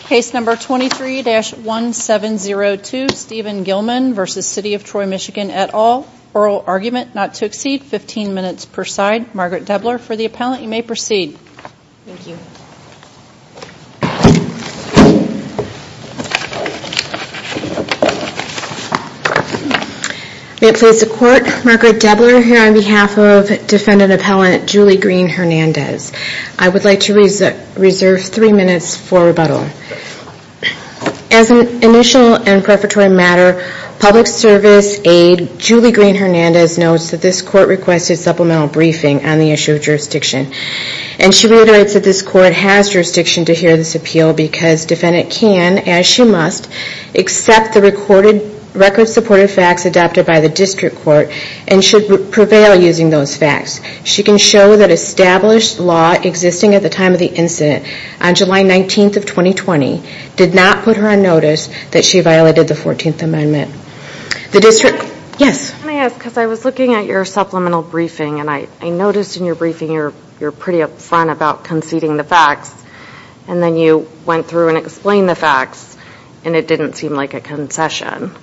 Case number 23-1702 Steven Gillman v. City of Troy MI et al. Oral argument not to exceed 15 minutes per side. Margaret Debler for the appellant. You may proceed. Thank you. May it please the Court, Margaret Debler here on behalf of defendant appellant Julie Green Hernandez. I would like to reserve three minutes for rebuttal. As an initial and preparatory matter, public service aide Julie Green Hernandez notes that this court requested supplemental briefing on the issue of jurisdiction. And she reiterates that this court has jurisdiction to hear this appeal because defendant can, as she must, accept the record supported facts adopted by the district court and should prevail using those facts. She can show that established law existing at the time of the incident, on July 19th of 2020, did not put her on notice that she violated the 14th amendment. The district, yes? Can I ask, because I was looking at your supplemental briefing and I noticed in your briefing you're pretty upfront about conceding the facts. And then you went through and explained the facts and it didn't seem like a concession.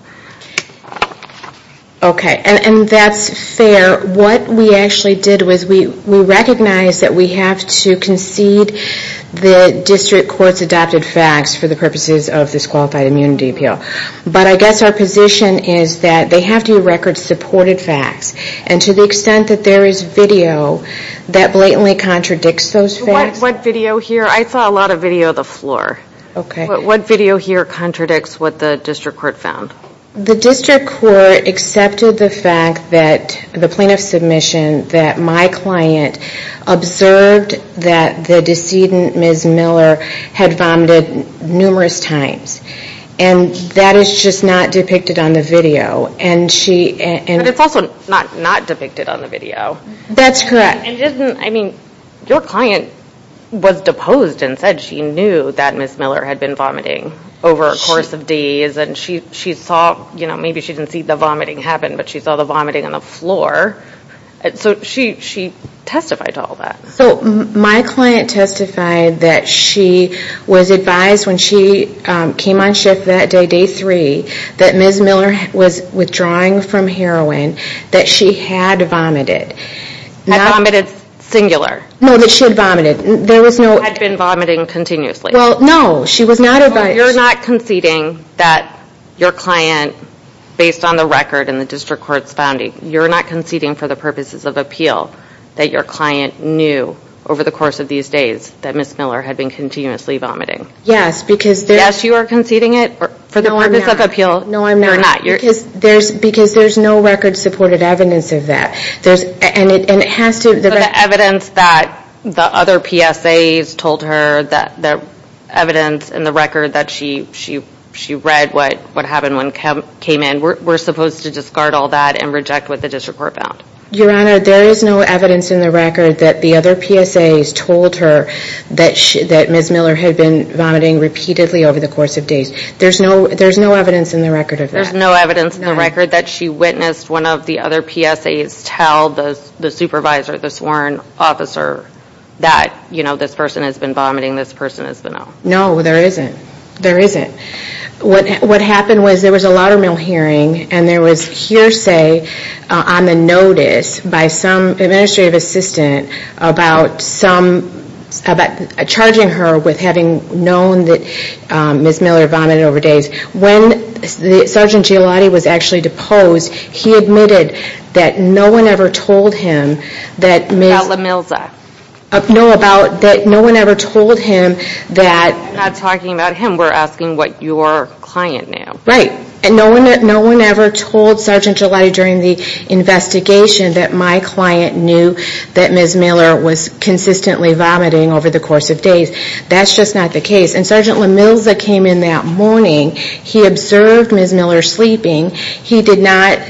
Okay, and that's fair. What we actually did was we recognized that we have to concede the district court's adopted facts for the purposes of this Qualified Immunity Appeal. But I guess our position is that they have to be record supported facts. And to the extent that there is video, that blatantly contradicts those facts. What video here? I saw a lot of video of the floor. Okay. What video here contradicts what the district court found? The district court accepted the fact that the plaintiff's submission that my client observed that the decedent, Ms. Miller, had vomited numerous times. And that is just not depicted on the video. And it's also not depicted on the video. That's correct. Your client was deposed and said she knew that Ms. Miller had been vomiting over a course of days. And she saw, maybe she didn't see the vomiting happen, but she saw the vomiting on the floor. So she testified to all that. So my client testified that she was advised when she came on shift that day, day three, that Ms. Miller was withdrawing from heroin, that she had vomited. I vomited singular. No, that she had vomited. I had been vomiting continuously. Well, no, she was not advised. So you're not conceding that your client, based on the record in the district court's founding, you're not conceding for the purposes of appeal that your client knew over the course of these days that Ms. Miller had been continuously vomiting. Yes, because there's... Yes, you are conceding it for the purpose of appeal. No, I'm not. You're not. Because there's no record supported evidence of that. And it has to... But the evidence that the other PSAs told her, the evidence in the record that she read what happened when came in, we're supposed to discard all that and reject what the district court found. Your Honor, there is no evidence in the record that the other PSAs told her that Ms. Miller had been vomiting repeatedly over the course of days. There's no evidence in the record of that. There's no evidence in the record that she witnessed one of the other PSAs tell the supervisor, the sworn officer, that, you know, this person has been vomiting, this person has been... No, there isn't. There isn't. What happened was there was a laudermill hearing and there was hearsay on the notice by some administrative assistant about some... about charging her with having known that Ms. Miller vomited over days. When Sgt. Giolatti was actually deposed, he admitted that no one ever told him that Ms... About LaMilza. No, about... that no one ever told him that... We're not talking about him. We're asking what your client knew. Right. And no one ever told Sgt. Giolatti during the investigation that my client knew that Ms. Miller was consistently vomiting over the course of days. That's just not the case. And Sgt. LaMilza came in that morning. He observed Ms. Miller sleeping. He did not,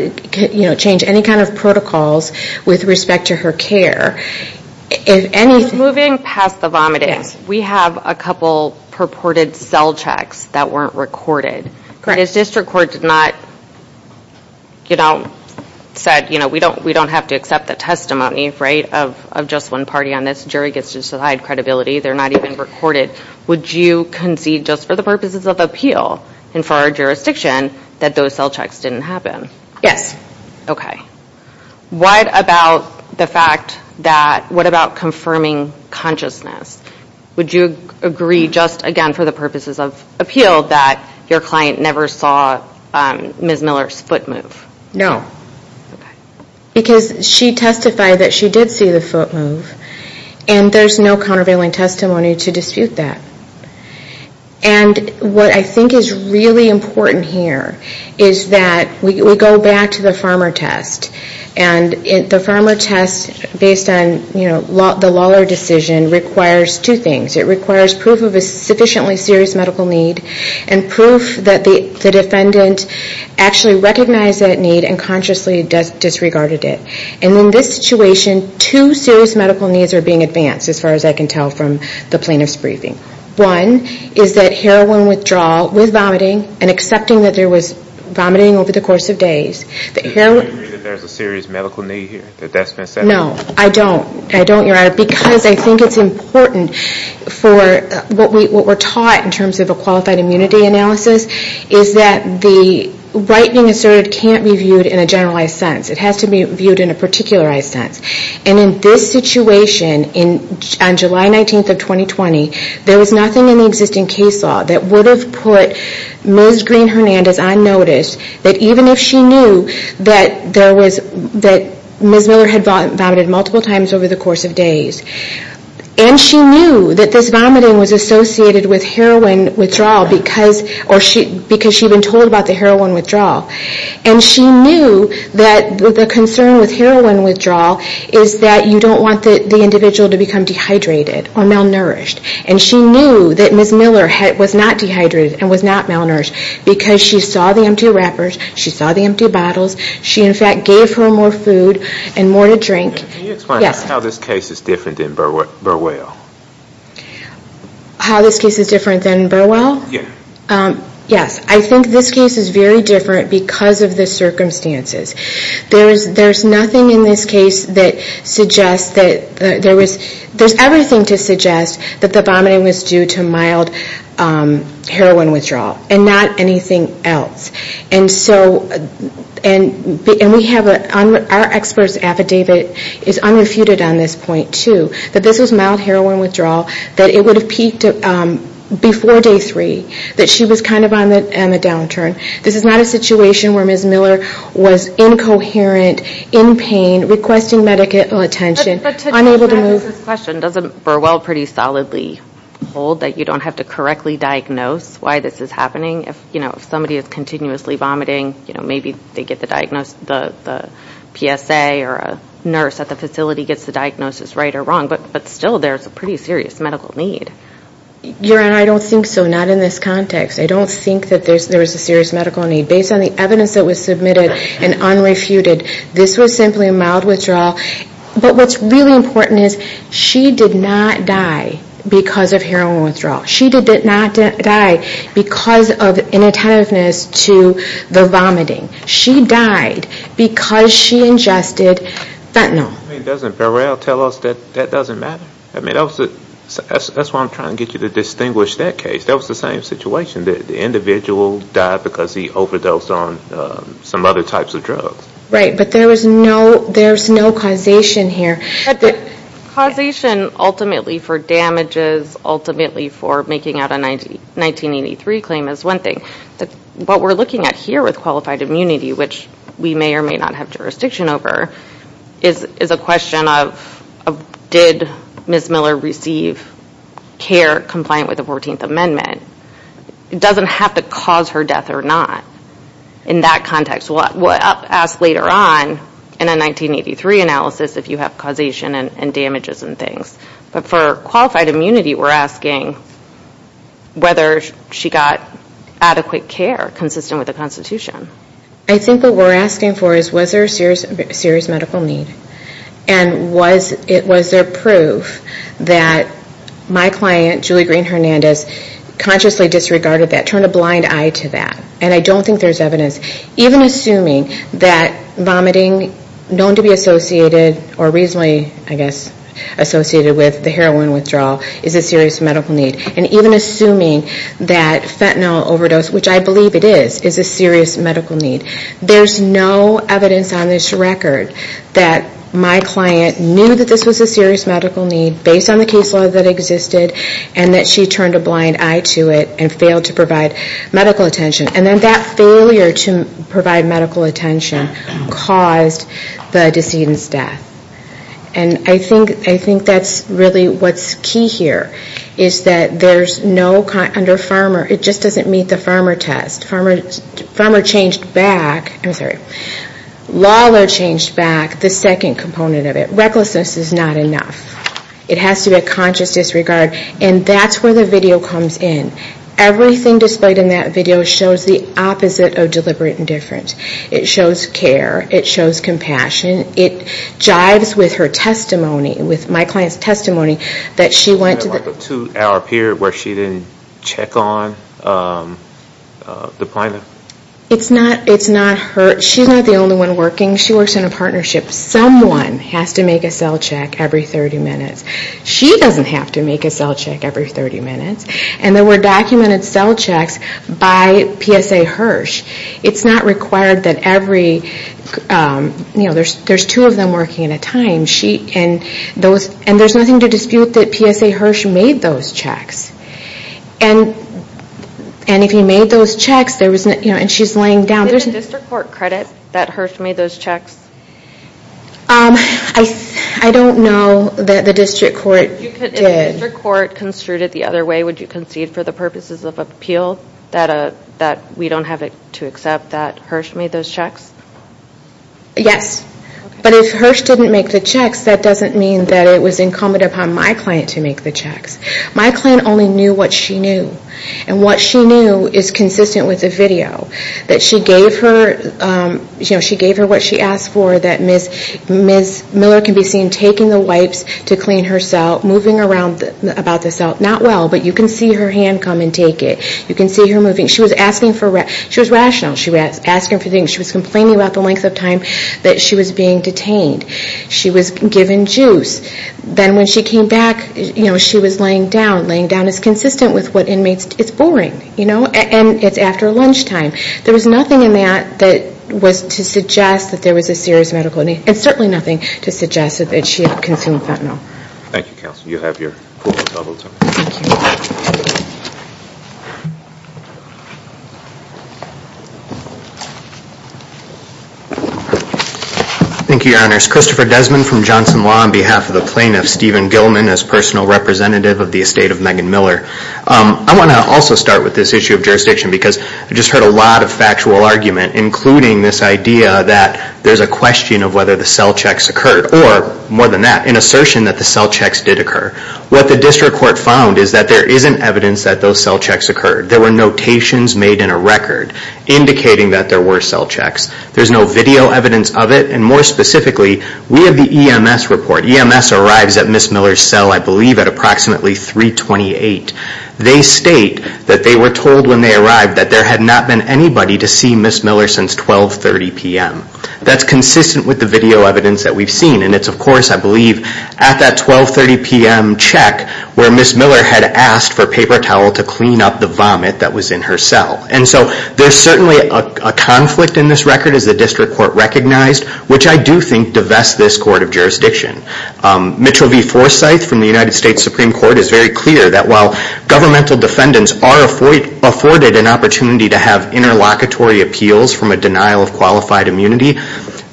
you know, change any kind of protocols with respect to her care. If anything... Moving past the vomiting, we have a couple purported cell checks that weren't recorded. Correct. Because district court did not, you know, said, you know, we don't have to accept the testimony, right, of just one party on this. The jury gets to decide credibility. They're not even recorded. Would you concede just for the purposes of appeal and for our jurisdiction that those cell checks didn't happen? Yes. What about the fact that... what about confirming consciousness? Would you agree just, again, for the purposes of appeal, that your client never saw Ms. Miller's foot move? No. Okay. Because she testified that she did see the foot move. And there's no countervailing testimony to dispute that. And what I think is really important here is that we go back to the farmer test. And the farmer test, based on, you know, the Lawler decision, requires two things. It requires proof of a sufficiently serious medical need and proof that the defendant actually recognized that need and consciously disregarded it. And in this situation, two serious medical needs are being advanced, as far as I can tell from the plaintiff's briefing. One is that heroin withdrawal with vomiting and accepting that there was vomiting over the course of days. Do you agree that there's a serious medical need here, that that's been said? No, I don't. I don't. Because I think it's important for what we're taught in terms of a qualified immunity analysis, is that the whitening asserted can't be viewed in a generalized sense. It has to be viewed in a particularized sense. And in this situation, on July 19th of 2020, there was nothing in the existing case law that would have put Ms. Green-Hernandez on notice that even if she knew that there was, that Ms. Miller had vomited multiple times over the course of days. And she knew that this vomiting was associated with heroin withdrawal because she'd been told about the heroin withdrawal. And she knew that the concern with heroin withdrawal is that you don't want the individual to become dehydrated or malnourished. And she knew that Ms. Miller was not dehydrated and was not malnourished because she saw the empty wrappers, she saw the empty bottles, she in fact gave her more food and more to drink. Can you explain how this case is different than Burwell? How this case is different than Burwell? Yes. Yes, I think this case is very different because of the circumstances. There's nothing in this case that suggests that there was, there's everything to suggest that the vomiting was due to mild heroin withdrawal. And not anything else. And so, and we have, our expert's affidavit is unrefuted on this point too. That this was mild heroin withdrawal, that it would have peaked before day three. That she was kind of on the downturn. This is not a situation where Ms. Miller was incoherent, in pain, requesting medical attention, unable to move. But to address this question, doesn't Burwell pretty solidly hold that you don't have to correctly diagnose why this is happening? You know, if somebody is continuously vomiting, you know, maybe they get the PSA or a nurse at the facility gets the diagnosis right or wrong. But still, there's a pretty serious medical need. Your Honor, I don't think so. Not in this context. I don't think that there's a serious medical need. Based on the evidence that was submitted and unrefuted, this was simply a mild withdrawal. But what's really important is she did not die because of heroin withdrawal. She did not die because of inattentiveness to the vomiting. She died because she ingested fentanyl. I mean, doesn't Burwell tell us that that doesn't matter? I mean, that's why I'm trying to get you to distinguish that case. That was the same situation. The individual died because he overdosed on some other types of drugs. Right, but there was no causation here. Causation ultimately for damages, ultimately for making out a 1983 claim is one thing. But what we're looking at here with qualified immunity, which we may or may not have jurisdiction over, is a question of did Ms. Miller receive care compliant with the 14th Amendment. It doesn't have to cause her death or not in that context. We'll ask later on in a 1983 analysis if you have causation and damages and things. But for qualified immunity, we're asking whether she got adequate care consistent with the Constitution. I think what we're asking for is was there a serious medical need? And was there proof that my client, Julie Green-Hernandez, consciously disregarded that, turned a blind eye to that? And I don't think there's evidence, even assuming that vomiting known to be associated or reasonably, I guess, associated with the heroin withdrawal is a serious medical need. And even assuming that fentanyl overdose, which I believe it is, is a serious medical need. There's no evidence on this record that my client knew that this was a serious medical need based on the case law that existed and that she turned a blind eye to it and failed to provide medical attention. And then that failure to provide medical attention caused the decedent's death. And I think that's really what's key here, is that there's no, under Farmer, it just doesn't meet the Farmer test. Farmer changed back, I'm sorry, Lawlor changed back the second component of it. Recklessness is not enough. It has to be a conscious disregard. And that's where the video comes in. Everything displayed in that video shows the opposite of deliberate indifference. It shows care. It shows compassion. It jives with her testimony, with my client's testimony, that she went to the Was there like a two-hour period where she didn't check on the client? It's not her. She's not the only one working. She works in a partnership. Someone has to make a cell check every 30 minutes. She doesn't have to make a cell check every 30 minutes. And there were documented cell checks by PSA Hirsch. It's not required that every, you know, there's two of them working at a time. And there's nothing to dispute that PSA Hirsch made those checks. And if he made those checks, and she's laying down. Did the district court credit that Hirsch made those checks? I don't know that the district court did. If the district court construed it the other way, would you concede for the to accept that Hirsch made those checks? Yes. But if Hirsch didn't make the checks, that doesn't mean that it was incumbent upon my client to make the checks. My client only knew what she knew. And what she knew is consistent with the video. That she gave her what she asked for, that Ms. Miller can be seen taking the wipes to clean her cell, moving around about the cell. Not well, but you can see her hand come and take it. You can see her moving. She was rational. She was asking for things. She was complaining about the length of time that she was being detained. She was given juice. Then when she came back, you know, she was laying down. Laying down is consistent with what inmates do. It's boring, you know. And it's after lunchtime. There was nothing in that that was to suggest that there was a serious medical need. And certainly nothing to suggest that she had consumed fentanyl. Thank you, counsel. You have your four minutes. Thank you. Thank you, Your Honors. Christopher Desmond from Johnson Law on behalf of the plaintiff, Stephen Gilman, as personal representative of the estate of Megan Miller. I want to also start with this issue of jurisdiction because I just heard a lot of factual argument, including this idea that there's a question of whether the cell checks occurred. Or, more than that, an assertion that the cell checks did occur. What the district court found is that there isn't evidence that those cell checks occurred. There were notations made in a record indicating that there were cell checks. There's no video evidence of it. And more specifically, we have the EMS report. EMS arrives at Ms. Miller's cell, I believe, at approximately 328. They state that they were told when they arrived that there had not been anybody to see Ms. Miller since 1230 p.m. That's consistent with the video evidence that we've seen. And it's, of course, I believe, at that 1230 p.m. check where Ms. Miller had asked for paper towel to clean up the vomit that was in her cell. And so there's certainly a conflict in this record, as the district court recognized, which I do think divests this court of jurisdiction. Mitchell V. Forsyth from the United States Supreme Court is very clear that while governmental defendants are afforded an opportunity to have interlocutory appeals from a denial of qualified immunity,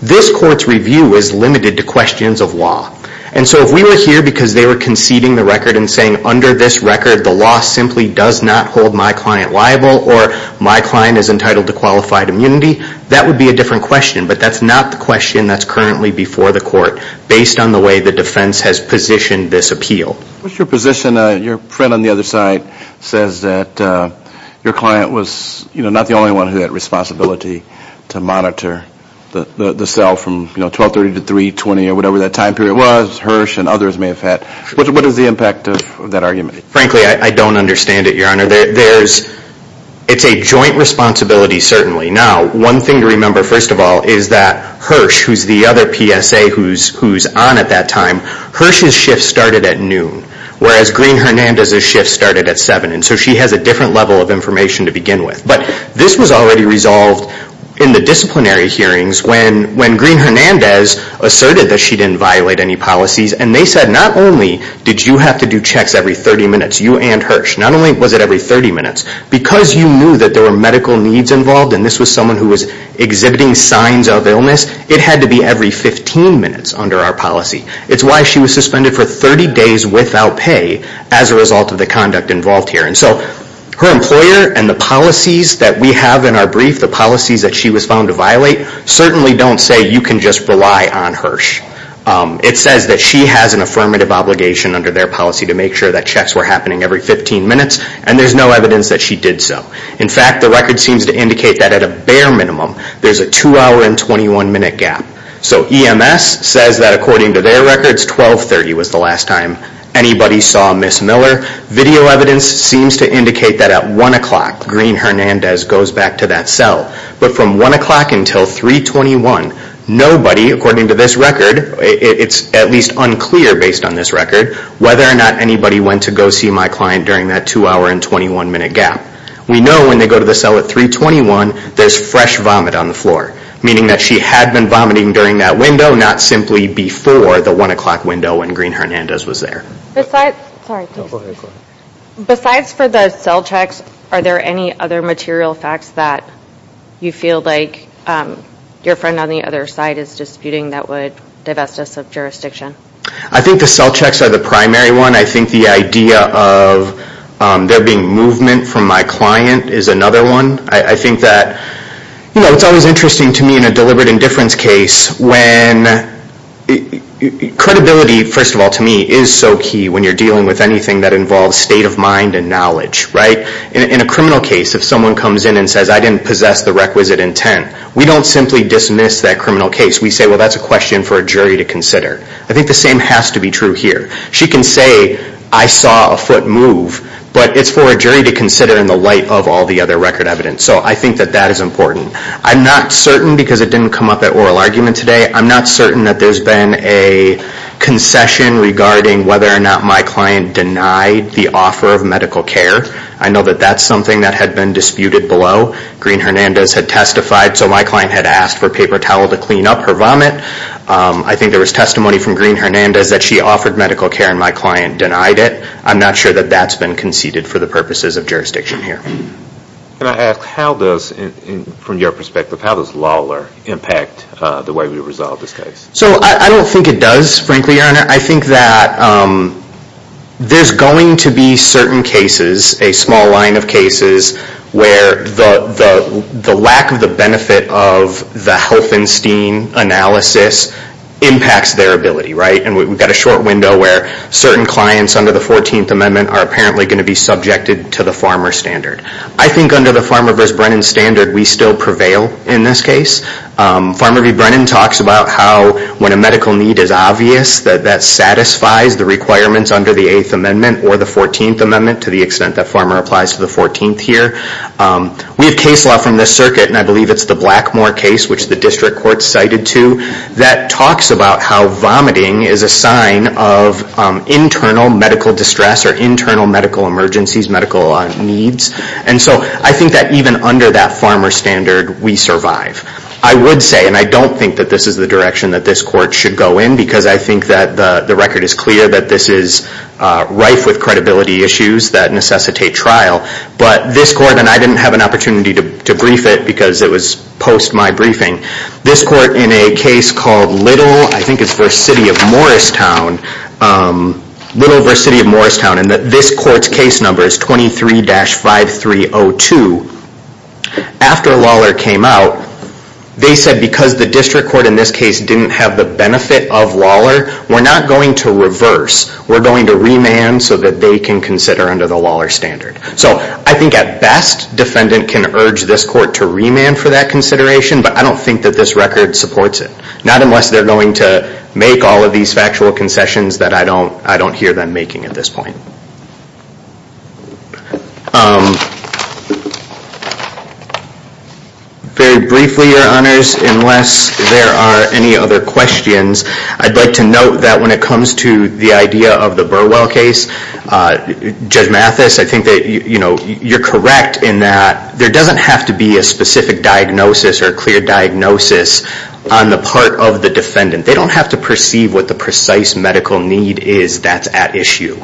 this court's review is limited to questions of law. And so if we were here because they were conceding the record and saying under this record the law simply does not hold my client liable or my client is entitled to qualified immunity, that would be a different question. But that's not the question that's currently before the court based on the way the defense has positioned this appeal. What's your position? Your print on the other side says that your client was, you know, not the only one who had responsibility to monitor the cell from, you know, 1230 to 320 or whatever that time period was. Hirsch and others may have had. What is the impact of that argument? Frankly, I don't understand it, Your Honor. It's a joint responsibility certainly. Now, one thing to remember, first of all, is that Hirsch, who's the other PSA who's on at that time, Hirsch's shift started at noon, whereas Green-Hernandez's shift started at 7. And so she has a different level of information to begin with. But this was already resolved in the disciplinary hearings when Green-Hernandez asserted that she didn't violate any policies. And they said not only did you have to do checks every 30 minutes, you and Hirsch, not only was it every 30 minutes, because you knew that there were medical needs involved and this was someone who was exhibiting signs of illness, it had to be every 15 minutes under our policy. It's why she was suspended for 30 days without pay as a result of the conduct involved here. And so her employer and the policies that we have in our brief, the policies that she was found to violate, certainly don't say you can just rely on Hirsch. It says that she has an affirmative obligation under their policy to make sure that checks were happening every 15 minutes, and there's no evidence that she did so. In fact, the record seems to indicate that at a bare minimum, there's a 2-hour and 21-minute gap. So EMS says that according to their records, 12.30 was the last time anybody saw Ms. Miller. Video evidence seems to indicate that at 1 o'clock, Green-Hernandez goes back to that cell. But from 1 o'clock until 3.21, nobody, according to this record, it's at least unclear based on this record, whether or not anybody went to go see my client during that 2-hour and 21-minute gap. We know when they go to the cell at 3.21, there's fresh vomit on the floor, meaning that she had been vomiting during that window, not simply before the 1 o'clock window when Green-Hernandez was there. Besides for the cell checks, are there any other material facts that you feel like your friend on the other side is disputing that would divest us of jurisdiction? I think the cell checks are the primary one. I think the idea of there being movement from my client is another one. I think that it's always interesting to me in a deliberate indifference case when credibility, first of all, to me, is so key when you're dealing with anything that involves state of mind and knowledge, right? In a criminal case, if someone comes in and says, I didn't possess the requisite intent, we don't simply dismiss that criminal case. We say, well, that's a question for a jury to consider. I think the same has to be true here. She can say, I saw a foot move, but it's for a jury to consider in the light of all the other record evidence. So I think that that is important. I'm not certain because it didn't come up at oral argument today. I'm not certain that there's been a concession regarding whether or not my client denied the offer of medical care. I know that that's something that had been disputed below. Green-Hernandez had testified, so my client had asked for paper towel to clean up her vomit. I think there was testimony from Green-Hernandez that she offered medical care and my client denied it. I'm not sure that that's been conceded for the purposes of jurisdiction here. Can I ask, how does, from your perspective, how does Lawler impact the way we resolve this case? I don't think it does, frankly, Your Honor. I think that there's going to be certain cases, a small line of cases, where the lack of the benefit of the Helfenstein analysis impacts their ability. We've got a short window where certain clients under the 14th Amendment are apparently going to be subjected to the Farmer Standard. I think under the Farmer v. Brennan Standard, we still prevail in this case. Farmer v. Brennan talks about how when a medical need is obvious, that that satisfies the requirements under the 8th Amendment or the 14th Amendment to the extent that Farmer applies to the 14th here. We have case law from this circuit, and I believe it's the Blackmore case, which the district court cited to, that talks about how vomiting is a sign of internal medical distress or internal medical emergencies, medical needs. I think that even under that Farmer Standard, we survive. I would say, and I don't think that this is the direction that this court should go in, because I think that the record is clear that this is rife with credibility issues that necessitate trial. But this court, and I didn't have an opportunity to brief it because it was post my briefing. This court in a case called Little, I think it's v. City of Morristown, Little v. City of Morristown, and this court's case number is 23-5302. After Lawler came out, they said because the district court in this case didn't have the benefit of Lawler, we're not going to reverse. We're going to remand so that they can consider under the Lawler Standard. So I think at best, defendant can urge this court to remand for that consideration, but I don't think that this record supports it. Not unless they're going to make all of these factual concessions that I don't hear them making at this point. Very briefly, Your Honors, unless there are any other questions, I'd like to note that when it comes to the idea of the Burwell case, Judge Mathis, I think that you're correct in that there doesn't have to be a specific diagnosis or a clear diagnosis on the part of the defendant. They don't have to perceive what the precise medical need is that's at issue.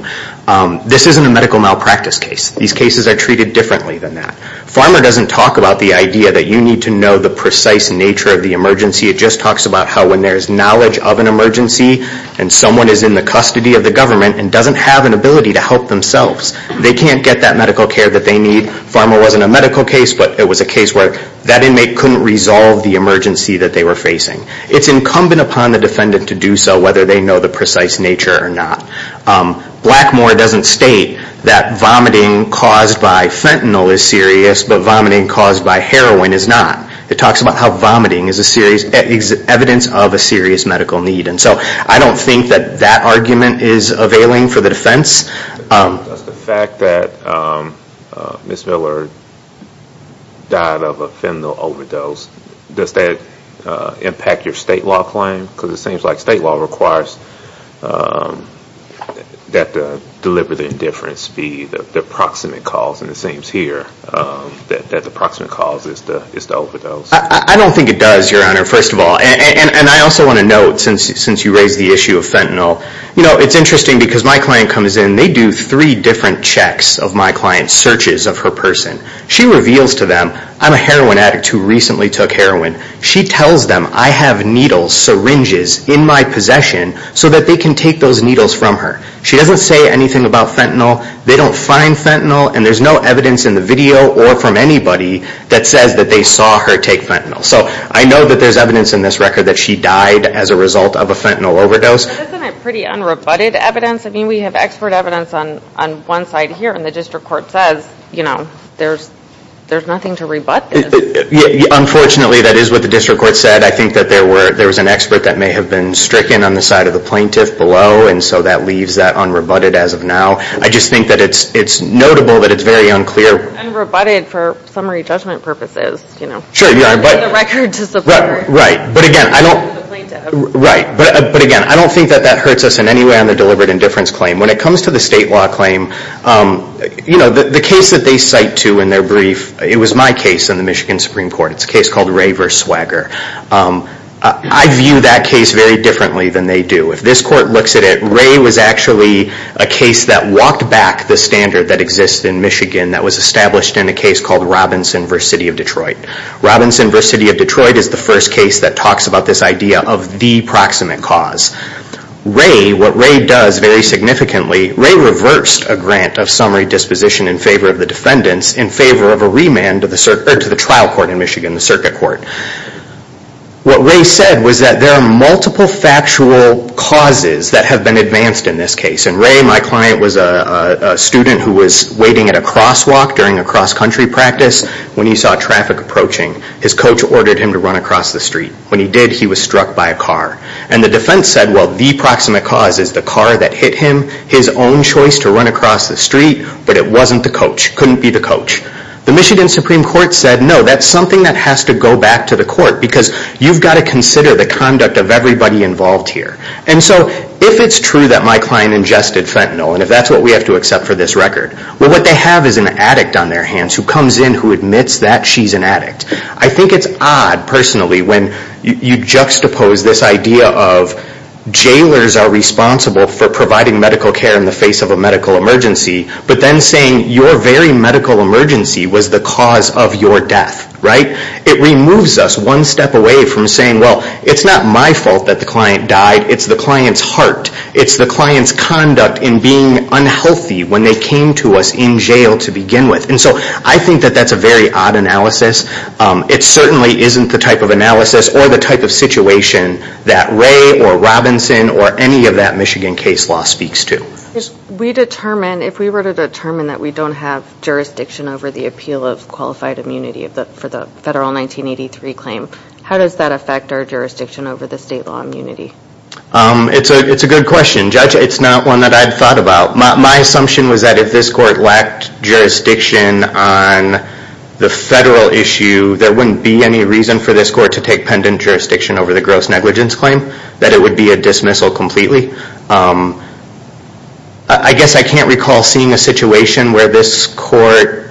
This isn't a medical malpractice case. These cases are treated differently than that. Pharma doesn't talk about the idea that you need to know the precise nature of the emergency. It just talks about how when there's knowledge of an emergency and someone is in the custody of the government and doesn't have an ability to help themselves, they can't get that medical care that they need. Pharma wasn't a medical case, but it was a case where that inmate couldn't resolve the emergency that they were facing. It's incumbent upon the defendant to do so whether they know the precise nature or not. Blackmore doesn't state that vomiting caused by fentanyl is serious, but vomiting caused by heroin is not. It talks about how vomiting is evidence of a serious medical need. I don't think that that argument is availing for the defense. Does the fact that Ms. Miller died of a fentanyl overdose, does that impact your state law claim? Because it seems like state law requires that the deliberate indifference be the proximate cause. It seems here that the proximate cause is the overdose. I don't think it does, Your Honor, first of all. I also want to note, since you raised the issue of fentanyl, you know, it's interesting because my client comes in, they do three different checks of my client's searches of her person. She reveals to them, I'm a heroin addict who recently took heroin. She tells them I have needles, syringes in my possession so that they can take those needles from her. She doesn't say anything about fentanyl. They don't find fentanyl, and there's no evidence in the video or from anybody that says that they saw her take fentanyl. So I know that there's evidence in this record that she died as a result of a fentanyl overdose. Isn't it pretty unrebutted evidence? I mean, we have expert evidence on one side here, and the district court says, you know, there's nothing to rebut this. Unfortunately, that is what the district court said. I think that there was an expert that may have been stricken on the side of the plaintiff below, and so that leaves that unrebutted as of now. I just think that it's notable that it's very unclear. It's unrebutted for summary judgment purposes, you know. Sure, Your Honor. It's in the record to support the plaintiff. Right, but again, I don't think that that hurts us in any way on the deliberate indifference claim. When it comes to the state law claim, you know, the case that they cite to in their brief, it was my case in the Michigan Supreme Court. It's a case called Ray v. Swagger. I view that case very differently than they do. If this court looks at it, Ray was actually a case that walked back the standard that exists in Michigan that was established in a case called Robinson v. City of Detroit. Robinson v. City of Detroit is the first case that talks about this idea of the proximate cause. Ray, what Ray does very significantly, Ray reversed a grant of summary disposition in favor of the defendants in favor of a remand to the trial court in Michigan, the circuit court. What Ray said was that there are multiple factual causes that have been advanced in this case, and Ray, my client, was a student who was waiting at a crosswalk during a cross-country practice when he saw traffic approaching. His coach ordered him to run across the street. When he did, he was struck by a car. And the defense said, well, the proximate cause is the car that hit him, his own choice to run across the street, but it wasn't the coach, couldn't be the coach. The Michigan Supreme Court said, no, that's something that has to go back to the court because you've got to consider the conduct of everybody involved here. And so if it's true that my client ingested fentanyl, and if that's what we have to accept for this record, well, what they have is an addict on their hands who comes in who admits that she's an addict. I think it's odd, personally, when you juxtapose this idea of jailers are responsible for providing medical care in the face of a medical emergency, but then saying your very medical emergency was the cause of your death, right? It removes us one step away from saying, well, it's not my fault that the client died. It's the client's heart. It's the client's conduct in being unhealthy when they came to us in jail to begin with. And so I think that that's a very odd analysis. It certainly isn't the type of analysis or the type of situation that Ray or Robinson or any of that Michigan case law speaks to. We determine, if we were to determine that we don't have jurisdiction over the appeal of qualified immunity for the federal 1983 claim, how does that affect our jurisdiction over the state law immunity? It's a good question, Judge. It's not one that I'd thought about. My assumption was that if this court lacked jurisdiction on the federal issue, there wouldn't be any reason for this court to take pendent jurisdiction over the gross negligence claim, that it would be a dismissal completely. I guess I can't recall seeing a situation where this court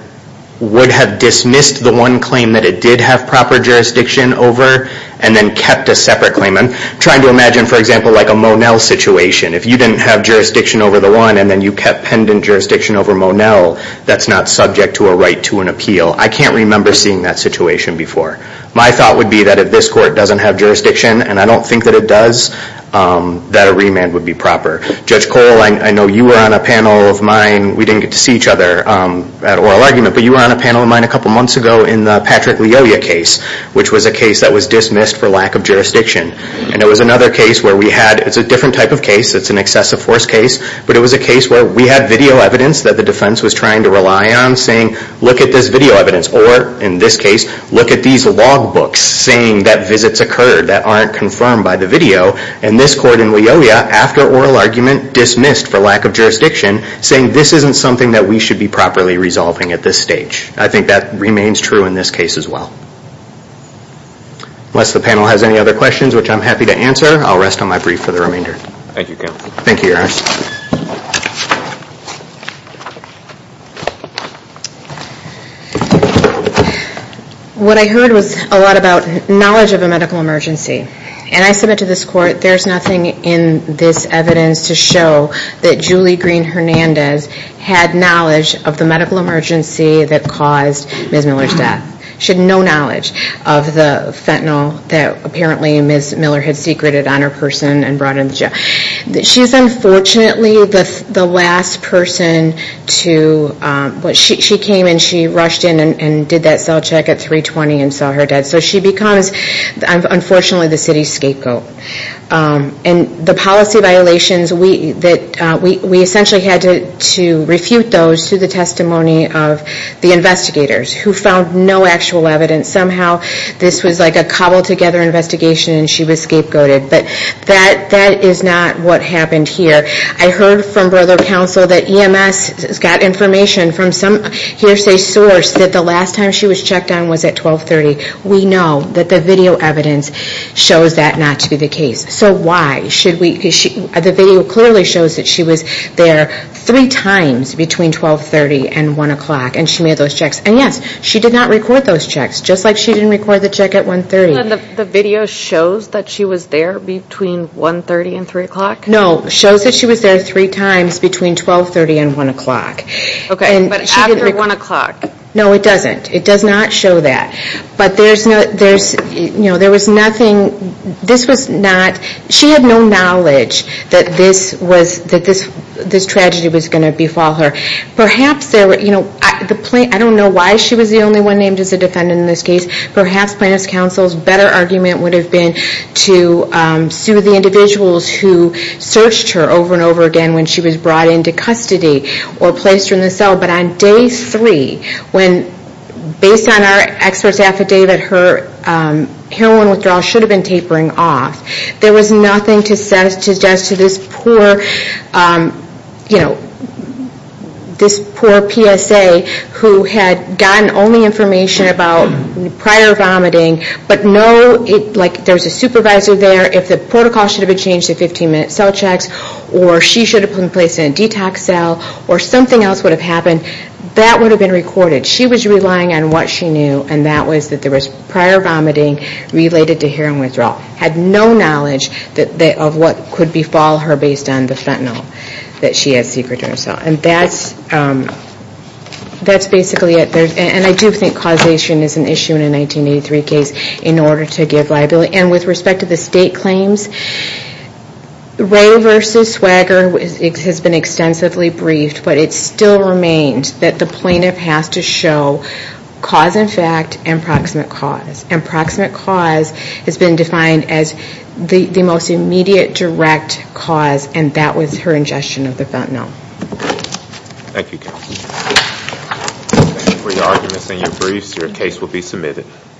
would have dismissed the one claim that it did have proper jurisdiction over and then kept a separate claim. I'm trying to imagine, for example, like a Monell situation. If you didn't have jurisdiction over the one and then you kept pendent jurisdiction over Monell, that's not subject to a right to an appeal. I can't remember seeing that situation before. My thought would be that if this court doesn't have jurisdiction, and I don't think that it does, that a remand would be proper. Judge Coyle, I know you were on a panel of mine. We didn't get to see each other at oral argument, but you were on a panel of mine a couple months ago in the Patrick Leoya case, which was a case that was dismissed for lack of jurisdiction. And it was another case where we had, it's a different type of case, it's an excessive force case, but it was a case where we had video evidence that the defense was trying to rely on saying, look at this video evidence, or in this case, look at these log books saying that visits occurred that aren't confirmed by the video. And this court in Leoya, after oral argument, dismissed for lack of jurisdiction, saying this isn't something that we should be properly resolving at this stage. I think that remains true in this case as well. Unless the panel has any other questions, which I'm happy to answer, I'll rest on my brief for the remainder. Thank you, counsel. Thank you, Your Honor. What I heard was a lot about knowledge of a medical emergency. And I submit to this court, there's nothing in this evidence to show that Julie Green Hernandez had knowledge of the medical emergency that caused Ms. Miller's death. She had no knowledge of the fentanyl that apparently Ms. Miller had secreted on her person and brought into jail. She's unfortunately the last person to, she came and she rushed in and did that cell check at 320 and saw her dead. So she becomes, unfortunately, the city's scapegoat. And the policy violations, we essentially had to refute those to the testimony of the investigators who found no actual evidence. Somehow this was like a cobbled together investigation and she was scapegoated. But that is not what happened here. I heard from brother counsel that EMS got information from some hearsay source that the last time she was checked on was at 1230. We know that the video evidence shows that not to be the case. So why should we, the video clearly shows that she was there three times between 1230 and 1 o'clock and she made those checks. And yes, she did not record those checks, just like she didn't record the check at 130. The video shows that she was there between 130 and 3 o'clock? No, it shows that she was there three times between 1230 and 1 o'clock. Okay, but after 1 o'clock? No, it doesn't. It does not show that. But there was nothing, this was not, she had no knowledge that this tragedy was going to befall her. Perhaps, I don't know why she was the only one named as a defendant in this case. Perhaps plaintiff's counsel's better argument would have been to sue the individuals who searched her over and over again when she was brought into custody or placed her in the cell. But on day three, when based on our expert's affidavit, her heroin withdrawal should have been tapering off. There was nothing to suggest to this poor, you know, this poor PSA who had gotten only information about prior vomiting, but no, like there's a supervisor there, if the protocol should have been changed to 15-minute cell checks, or she should have been placed in a detox cell, or something else would have happened, that would have been recorded. She was relying on what she knew, and that was that there was prior vomiting related to heroin withdrawal. Had no knowledge of what could befall her based on the fentanyl that she had secreted herself. And that's basically it. And I do think causation is an issue in a 1983 case in order to give liability. And with respect to the state claims, Ray v. Swagger has been extensively briefed, but it still remains that the plaintiff has to show cause and effect and proximate cause. And proximate cause has been defined as the most immediate, direct cause, and that was her ingestion of the fentanyl. Thank you, Counsel. Thank you for your arguments and your briefs. Your case will be submitted.